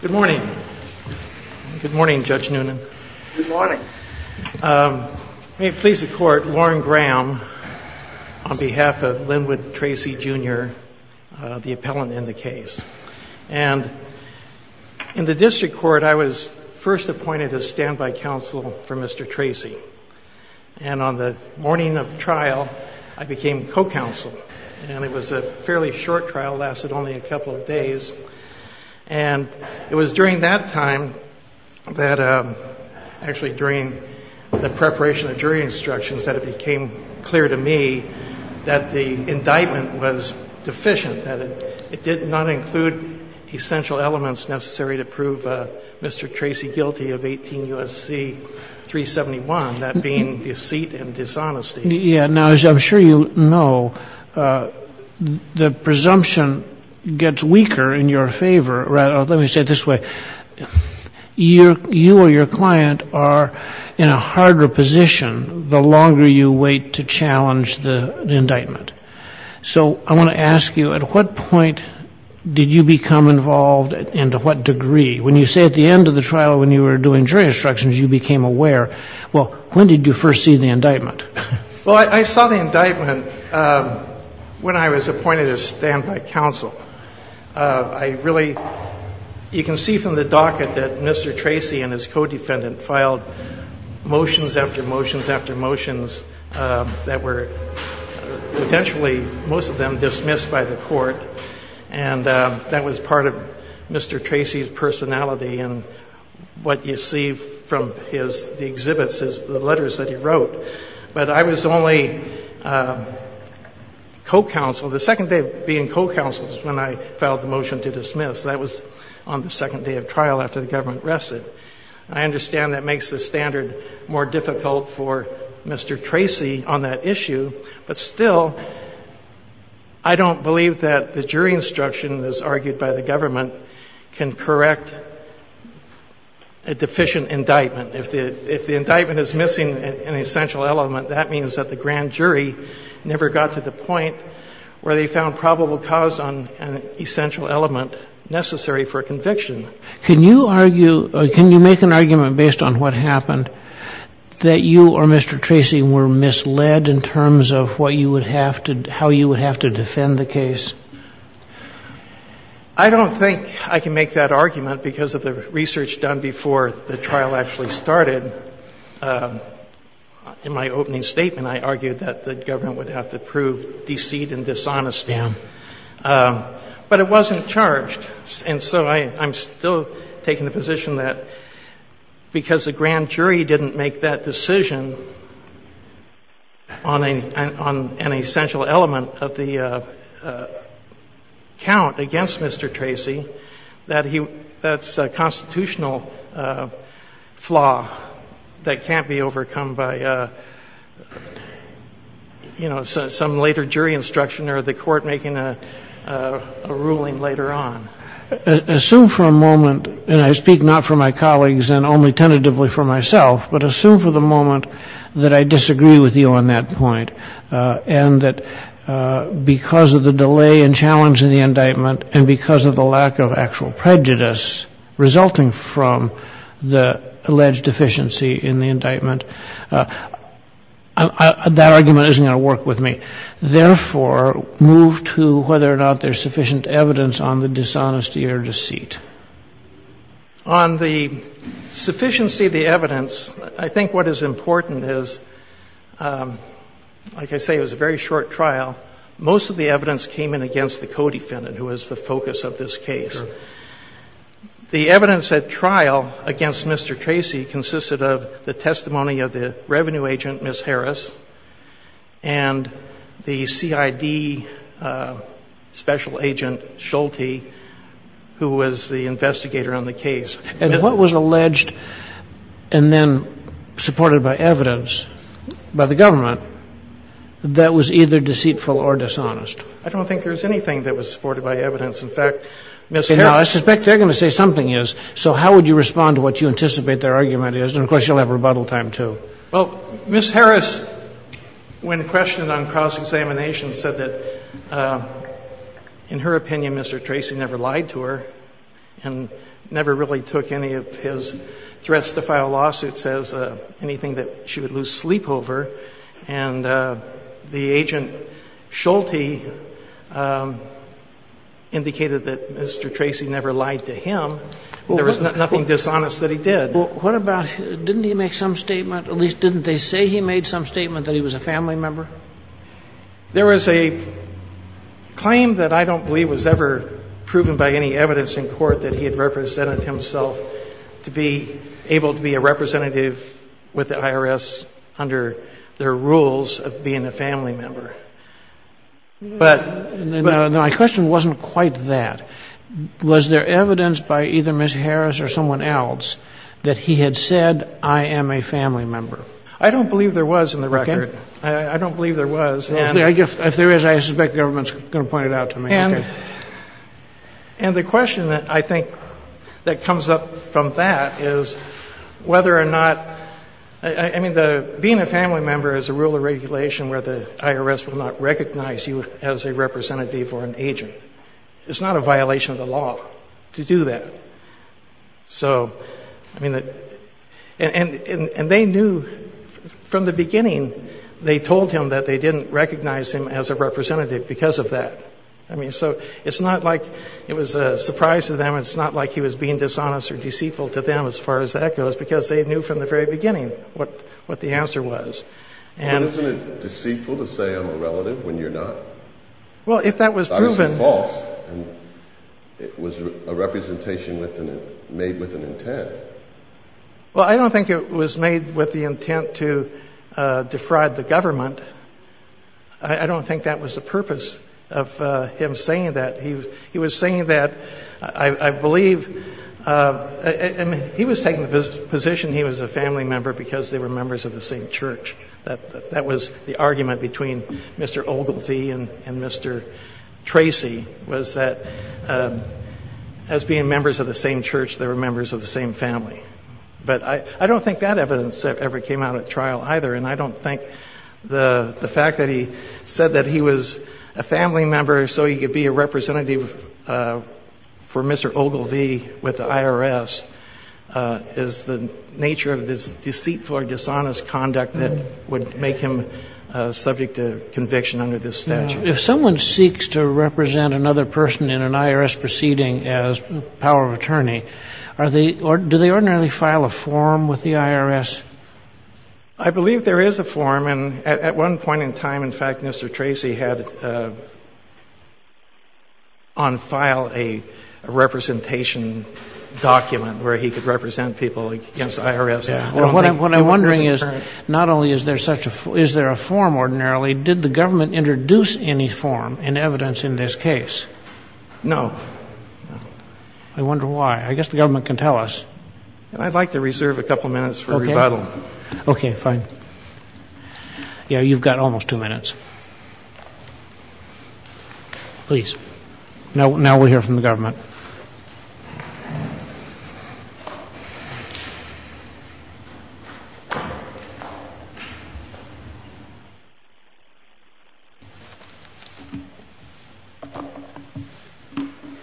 Good morning. Good morning, Judge Noonan. Good morning. May it please the court, Warren Graham, on behalf of Linwood Tracy Jr., the appellant in the case. And in the district court, I was first appointed as standby counsel for Mr. Tracy. And on the morning of trial, I became co-counsel. And it was a fairly short trial, lasted only a couple of days. And it was during that time that actually during the preparation of jury instructions that it became clear to me that the indictment was deficient, that it did not include essential elements necessary to prove Mr. Tracy guilty of 18 U.S.C. 371, that being deceit and dishonesty. Yeah. Now, as I'm sure you know, the presumption gets weaker in your favor. Let me say it this way. You or your client are in a harder position the longer you wait to challenge the indictment. So I want to ask you, at what point did you become involved and to what degree? When you say at the end of the trial when you were doing jury instructions, you became aware. Well, when did you first see the indictment? Well, I saw the indictment when I was appointed as standby counsel. I really you can see from the docket that Mr. Tracy and his co-defendant filed motions after motions after motions that were potentially most of them dismissed by the court. And that was part of Mr. Tracy's personality. And what you see from his exhibits is the letters that he wrote. But I was only co-counsel. The second day of being co-counsel is when I filed the motion to dismiss. That was on the second day of trial after the government arrested. I understand that makes the standard more difficult for Mr. Tracy on that issue. But still, I don't believe that the jury instruction, as argued by the government, can correct a deficient indictment. If the indictment is missing an essential element, that means that the grand jury never got to the point where they found probable cause on an essential element necessary for conviction. Can you argue or can you make an argument based on what happened that you or Mr. Tracy were misled in terms of what you would have to, how you would have to defend the case? I don't think I can make that argument because of the research done before the trial actually started. In my opening statement, I argued that the government would have to prove deceit and dishonesty. Yeah. But it wasn't charged. And so I'm still taking the position that because the grand jury didn't make that decision on an essential element of the count against Mr. Tracy, that's a constitutional flaw that can't be overcome by, you know, some later jury instruction or the court making a ruling later on. Assume for a moment, and I speak not for my colleagues and only tentatively for myself, but assume for the moment that I disagree with you on that point, and that because of the delay and challenge in the indictment and because of the lack of actual prejudice resulting from the alleged deficiency in the indictment, that argument isn't going to work with me. Therefore, move to whether or not there's sufficient evidence on the dishonesty or deceit. On the sufficiency of the evidence, I think what is important is, like I say, it was a very short trial. Most of the evidence came in against the co-defendant, who was the focus of this case. The evidence at trial against Mr. Tracy consisted of the testimony of the revenue agent, Ms. Harris, and the CID special agent, Schulte, who was the investigator on the case. And what was alleged and then supported by evidence by the government that was either deceitful or dishonest? I don't think there's anything that was supported by evidence. In fact, Ms. Harris — No, I suspect they're going to say something is. So how would you respond to what you anticipate their argument is? Well, Ms. Harris, when questioned on cross-examination, said that, in her opinion, Mr. Tracy never lied to her and never really took any of his threats to file lawsuits as anything that she would lose sleep over. And the agent, Schulte, indicated that Mr. Tracy never lied to him. There was nothing dishonest that he did. What about — didn't he make some statement? At least, didn't they say he made some statement that he was a family member? There was a claim that I don't believe was ever proven by any evidence in court that he had represented himself to be able to be a representative with the IRS under their rules of being a family member. But — No, my question wasn't quite that. Was there evidence by either Ms. Harris or someone else that he had said, I am a family member? I don't believe there was in the record. Okay. I don't believe there was. If there is, I suspect the government's going to point it out to me. And the question that I think that comes up from that is whether or not — I mean, being a family member is a rule of regulation where the IRS will not recognize you as a representative or an agent. It's not a violation of the law to do that. So, I mean, and they knew from the beginning they told him that they didn't recognize him as a representative because of that. I mean, so it's not like it was a surprise to them. It's not like he was being dishonest or deceitful to them as far as that goes, because they knew from the very beginning what the answer was. But isn't it deceitful to say I'm a relative when you're not? Well, if that was proven — I thought it was false. It was a representation made with an intent. Well, I don't think it was made with the intent to defraud the government. I don't think that was the purpose of him saying that. He was saying that, I believe — I mean, he was taking the position he was a family member because they were members of the same church. That was the argument between Mr. Ogilvie and Mr. Tracy was that as being members of the same church, they were members of the same family. But I don't think that evidence ever came out at trial either, and I don't think the fact that he said that he was a family member so he could be a representative for Mr. Ogilvie with the IRS is the nature of this deceitful or dishonest conduct that would make him subject to conviction under this statute. If someone seeks to represent another person in an IRS proceeding as power of attorney, do they ordinarily file a form with the IRS? I believe there is a form. And at one point in time, in fact, Mr. Tracy had on file a representation document where he could represent people against the IRS. What I'm wondering is not only is there a form ordinarily, did the government introduce any form in evidence in this case? No. I wonder why. I guess the government can tell us. I'd like to reserve a couple minutes for rebuttal. Okay, fine. Yeah, you've got almost two minutes. Please. Now we'll hear from the government.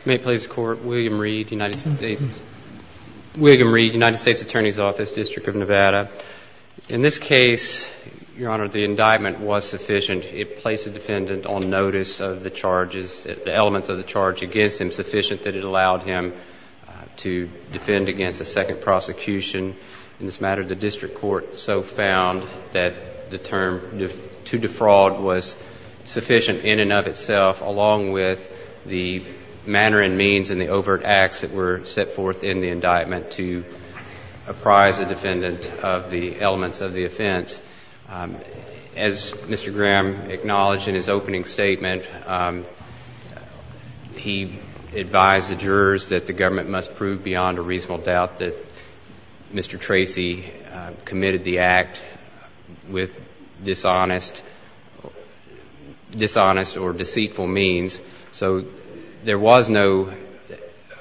May it please the Court, William Reed, United States Attorney's Office, District of Nevada. In this case, Your Honor, the indictment was sufficient. It placed the defendant on notice of the charges, the elements of the charge against him sufficient that it allowed him to defend against a second prosecution. In this matter, the district court so found that the term to defraud was sufficient in and of itself, along with the manner and means and the overt acts that were set forth in the indictment to apprise the defendant of the elements of the offense. As Mr. Graham acknowledged in his opening statement, he advised the jurors that the government must prove beyond a reasonable doubt that Mr. Tracy committed the act with dishonest or deceitful means. So there was no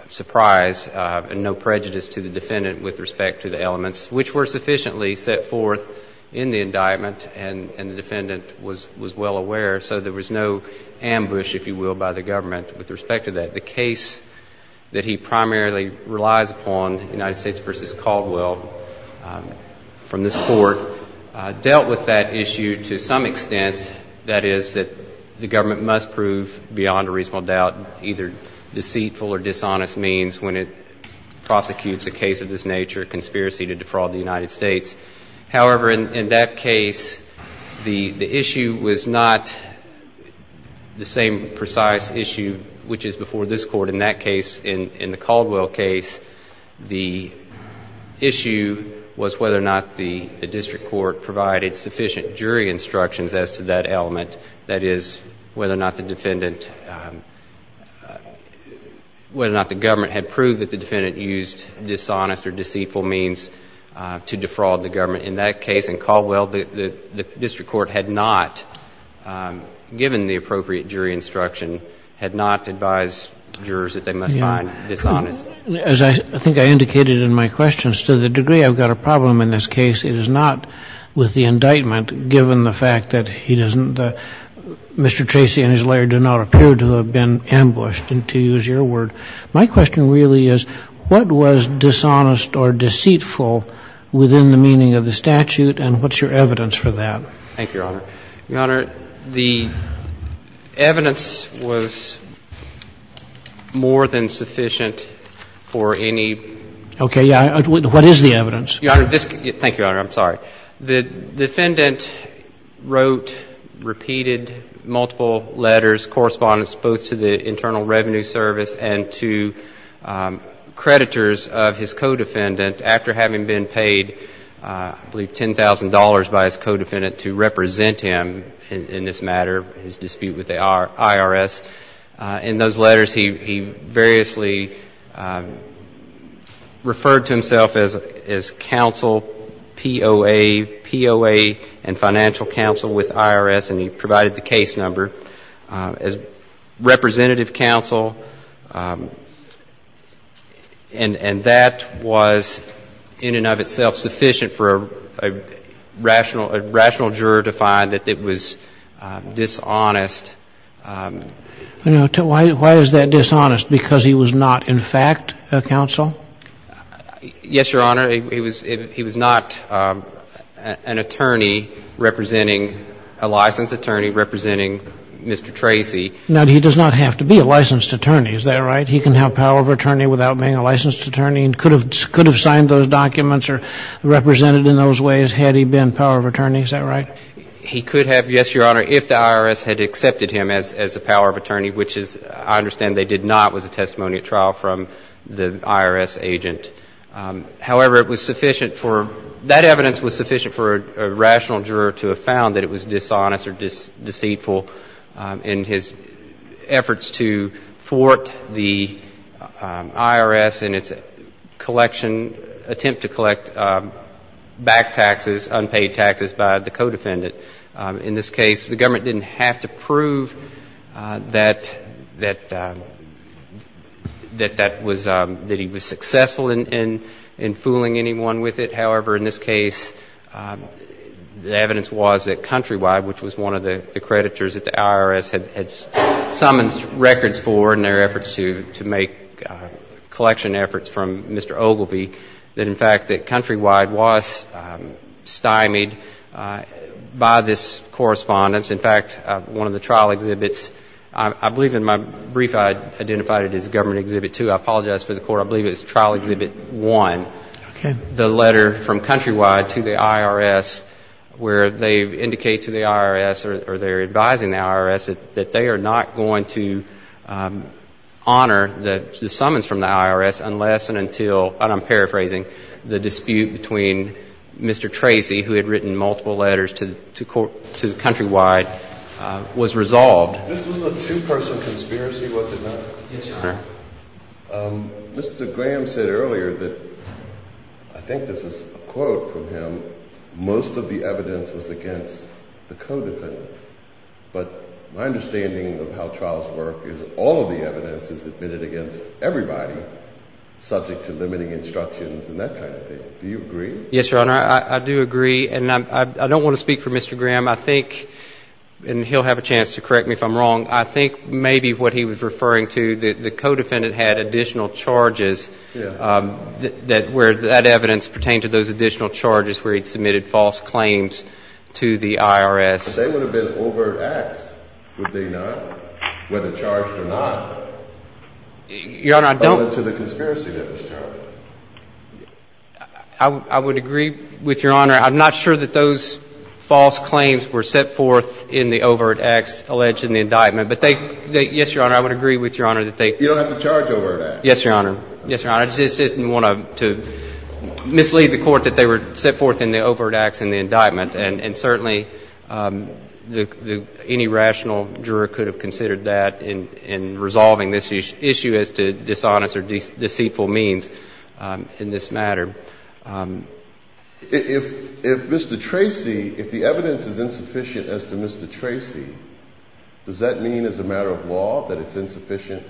surprise and no prejudice to the defendant with respect to the elements, which were sufficiently set forth in the indictment and the defendant was well aware. So there was no ambush, if you will, by the government with respect to that. The case that he primarily relies upon, United States v. Caldwell, from this court, dealt with that issue to some extent. That is that the government must prove beyond a reasonable doubt either deceitful or dishonest means when it prosecutes a case of this nature, a conspiracy to defraud the United States. However, in that case, the issue was not the same precise issue which is before this court. In that case, in the Caldwell case, the issue was whether or not the district court provided sufficient jury instructions as to that element, that is, whether or not the defendant, whether or not the government had proved that the defendant used dishonest or deceitful means to defraud the government. In that case in Caldwell, the district court had not, given the appropriate jury instruction, had not advised jurors that they must find dishonest. As I think I indicated in my questions, to the degree I've got a problem in this case, it is not with the indictment, given the fact that he doesn't, Mr. Tracy and his lawyer do not appear to have been ambushed, to use your word. My question really is what was dishonest or deceitful within the meaning of the statute and what's your evidence for that? Thank you, Your Honor. Your Honor, the evidence was more than sufficient for any. Okay. What is the evidence? Your Honor, thank you, Your Honor. I'm sorry. The defendant wrote, repeated multiple letters, correspondence both to the Internal Revenue Service and to creditors of his co-defendant after having been paid, I believe, $10,000 by his co-defendant to represent him in this matter, his dispute with the IRS. In those letters, he variously referred to himself as counsel, POA, POA and financial counsel with IRS, and he provided the case number as representative counsel. And that was in and of itself sufficient for a rational juror to find that it was dishonest Why is that dishonest? Because he was not, in fact, a counsel? Yes, Your Honor. He was not an attorney representing, a licensed attorney representing Mr. Tracy. Now, he does not have to be a licensed attorney, is that right? He can have power of attorney without being a licensed attorney and could have signed those documents or represented in those ways had he been power of attorney, is that right? He could have, yes, Your Honor, if the IRS had accepted him as a power of attorney, which is, I understand they did not, was a testimony at trial from the IRS agent. However, it was sufficient for, that evidence was sufficient for a rational juror to have found that it was dishonest or deceitful in his efforts to thwart the IRS and its collection, attempt to collect back taxes, unpaid taxes by the co-defendant In this case, the government didn't have to prove that he was successful in fooling anyone with it. However, in this case, the evidence was that Countrywide, which was one of the creditors that the IRS had summoned records for in their efforts to make collection efforts from Mr. Ogilvie, that in fact that Countrywide was stymied by this correspondence. In fact, one of the trial exhibits, I believe in my brief I identified it as Government Exhibit 2. I apologize for the court. I believe it's Trial Exhibit 1. Okay. The letter from Countrywide to the IRS where they indicate to the IRS or they're advising the IRS that they are not going to honor the summons from the IRS unless and until, and I'm paraphrasing, the dispute between Mr. Tracy, who had written multiple letters to Countrywide, was resolved. This was a two-person conspiracy, was it not? Yes, Your Honor. Mr. Graham said earlier that, I think this is a quote from him, that most of the evidence was against the co-defendant. But my understanding of how trials work is all of the evidence is admitted against everybody, subject to limiting instructions and that kind of thing. Do you agree? Yes, Your Honor. I do agree. And I don't want to speak for Mr. Graham. I think, and he'll have a chance to correct me if I'm wrong, I think maybe what he was referring to, the co-defendant had additional charges where that evidence pertained to those additional charges where he submitted false claims to the IRS. But they would have been overt acts, would they not? Whether charged or not. Your Honor, I don't. Other than the conspiracy that was charged. I would agree with Your Honor. I'm not sure that those false claims were set forth in the overt acts alleged in the indictment. But they, yes, Your Honor, I would agree with Your Honor that they. You don't have to charge overt acts. Yes, Your Honor. Yes, Your Honor. I just didn't want to mislead the Court that they were set forth in the overt acts in the indictment. And certainly any rational juror could have considered that in resolving this issue as to dishonest or deceitful means in this matter. If Mr. Tracy, if the evidence is insufficient as to Mr. Tracy, does that mean as a matter of law that it's insufficient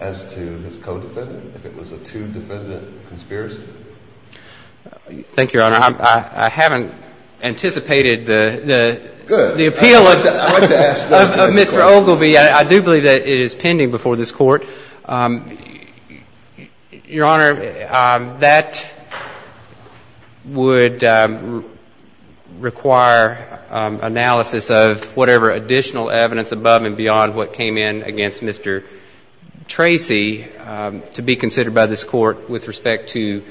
as to his co-defendant, if it was a two-defendant conspiracy? Thank you, Your Honor. I haven't anticipated the appeal of Mr. Ogilvie. I do believe that it is pending before this Court. Your Honor, that would require analysis of whatever additional evidence above and beyond what came in against Mr. Tracy to be considered by this Court with respect to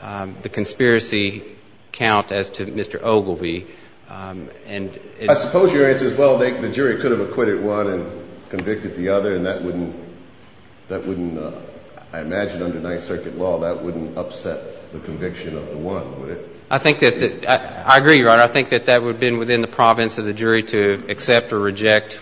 the conspiracy count as to Mr. Ogilvie. I suppose your answer is, well, the jury could have acquitted one and convicted the other, and that wouldn't, I imagine under Ninth Circuit law, that wouldn't upset the conviction of the one, would it? I agree, Your Honor. I think that that would have been within the province of the jury to accept or reject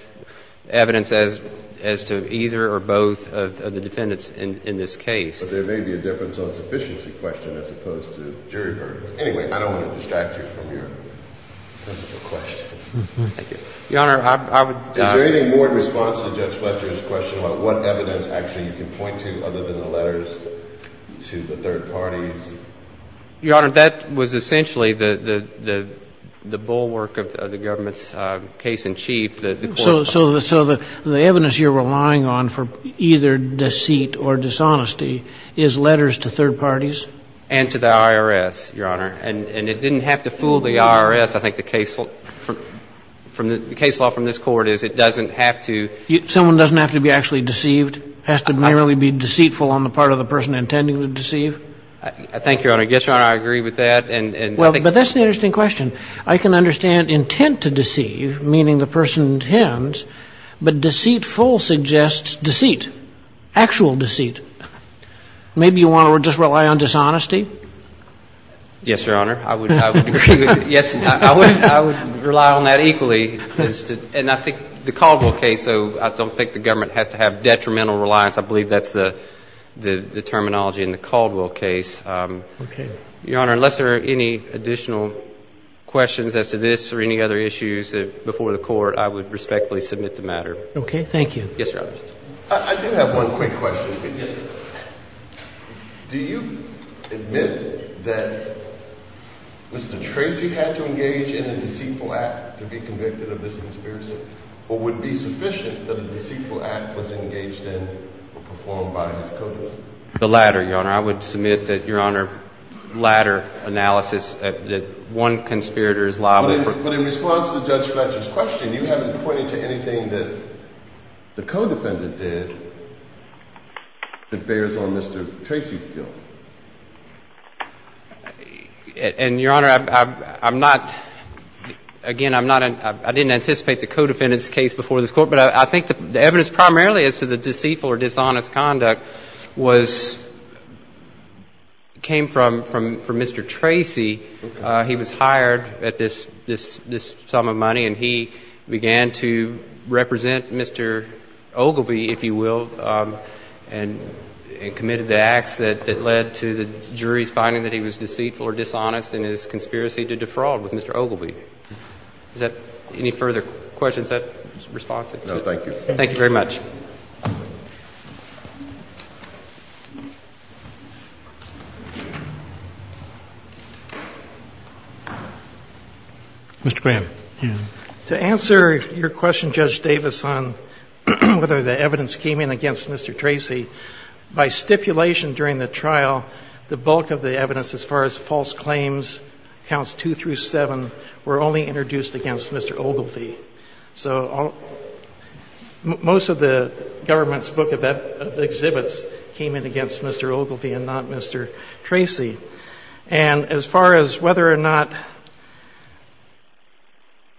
evidence as to either or both of the defendants in this case. But there may be a difference on sufficiency question as opposed to jury verdicts. Anyway, I don't want to distract you from your principle question. Your Honor, I would doubt it. Is there anything more in response to Judge Fletcher's question about what evidence actually you can point to other than the letters to the third parties? Your Honor, that was essentially the bulwark of the government's case in chief. So the evidence you're relying on for either deceit or dishonesty is letters to third parties? And to the IRS, Your Honor. And it didn't have to fool the IRS. I think the case law from this Court is it doesn't have to. Someone doesn't have to be actually deceived? Has to merely be deceitful on the part of the person intending to deceive? Thank you, Your Honor. Yes, Your Honor, I agree with that. But that's an interesting question. I can understand intent to deceive, meaning the person intends, but deceitful suggests deceit, actual deceit. Maybe you want to just rely on dishonesty? Yes, Your Honor, I would agree with that. Yes, I would rely on that equally. And I think the Caldwell case, though, I don't think the government has to have detrimental reliance. I believe that's the terminology in the Caldwell case. Okay. Your Honor, unless there are any additional questions as to this or any other issues before the Court, I would respectfully submit the matter. Okay. Thank you. Yes, Your Honor. I do have one quick question. Yes, sir. Do you admit that Mr. Tracy had to engage in a deceitful act to be convicted of this conspiracy? Or would it be sufficient that a deceitful act was engaged in or performed by his codefendant? The latter, Your Honor. I would submit that, Your Honor, latter analysis that one conspirator is liable for – This question, you haven't pointed to anything that the codefendant did that bears on Mr. Tracy's guilt. And, Your Honor, I'm not – again, I'm not – I didn't anticipate the codefendant's case before this Court, but I think the evidence primarily as to the deceitful or dishonest conduct was – came from Mr. Tracy. He was hired at this sum of money, and he began to represent Mr. Ogilvie, if you will, and committed the acts that led to the jury's finding that he was deceitful or dishonest in his conspiracy to defraud with Mr. Ogilvie. Is that – any further questions? Is that responsive? No, thank you. Thank you very much. Mr. Graham. Yes. To answer your question, Judge Davis, on whether the evidence came in against Mr. Tracy, by stipulation during the trial, the bulk of the evidence as far as false claims, counts 2 through 7, were only introduced against Mr. Ogilvie. So most of the government's book of exhibits came in against Mr. Ogilvie and not Mr. Tracy. And as far as whether or not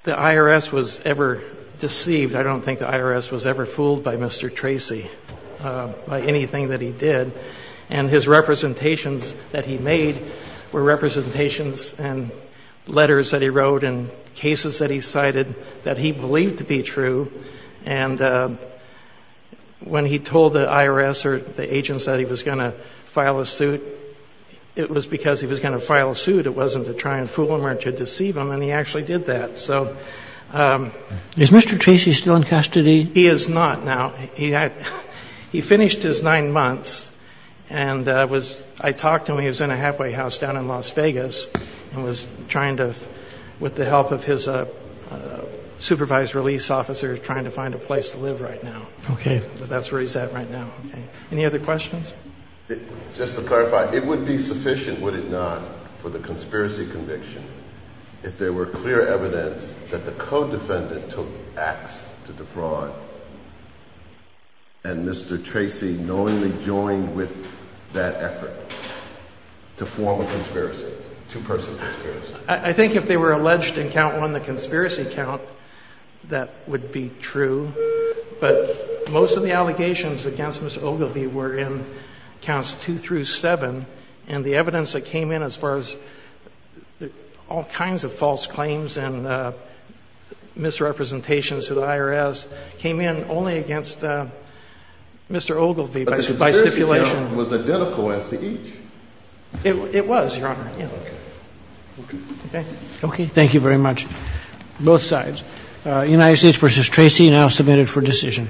the IRS was ever deceived, I don't think the IRS was ever fooled by Mr. Tracy, by anything that he did. And his representations that he made were representations and letters that he wrote in cases that he cited that he believed to be true. And when he told the IRS or the agents that he was going to file a suit, it was because he was going to file a suit. It wasn't to try and fool him or to deceive him. And he actually did that. So – Is Mr. Tracy still in custody? He is not now. He was in a halfway house down in Las Vegas and was trying to, with the help of his supervised release officer, trying to find a place to live right now. Okay. But that's where he's at right now. Okay. Any other questions? Just to clarify, it would be sufficient, would it not, for the conspiracy conviction if there were clear evidence that the co-defendant took acts to defraud and Mr. Tracy knowingly joined with that effort to form a conspiracy, a two-person conspiracy? I think if they were alleged in count one, the conspiracy count, that would be true. But most of the allegations against Ms. Ogilvie were in counts two through seven. And the evidence that came in as far as all kinds of false claims and misrepresentations to the IRS came in only against Mr. Ogilvie by stipulation. But the conspiracy count was identical as to each. It was, Your Honor. Okay. Okay? Okay. Thank you very much. Both sides. United States v. Tracy now submitted for decision.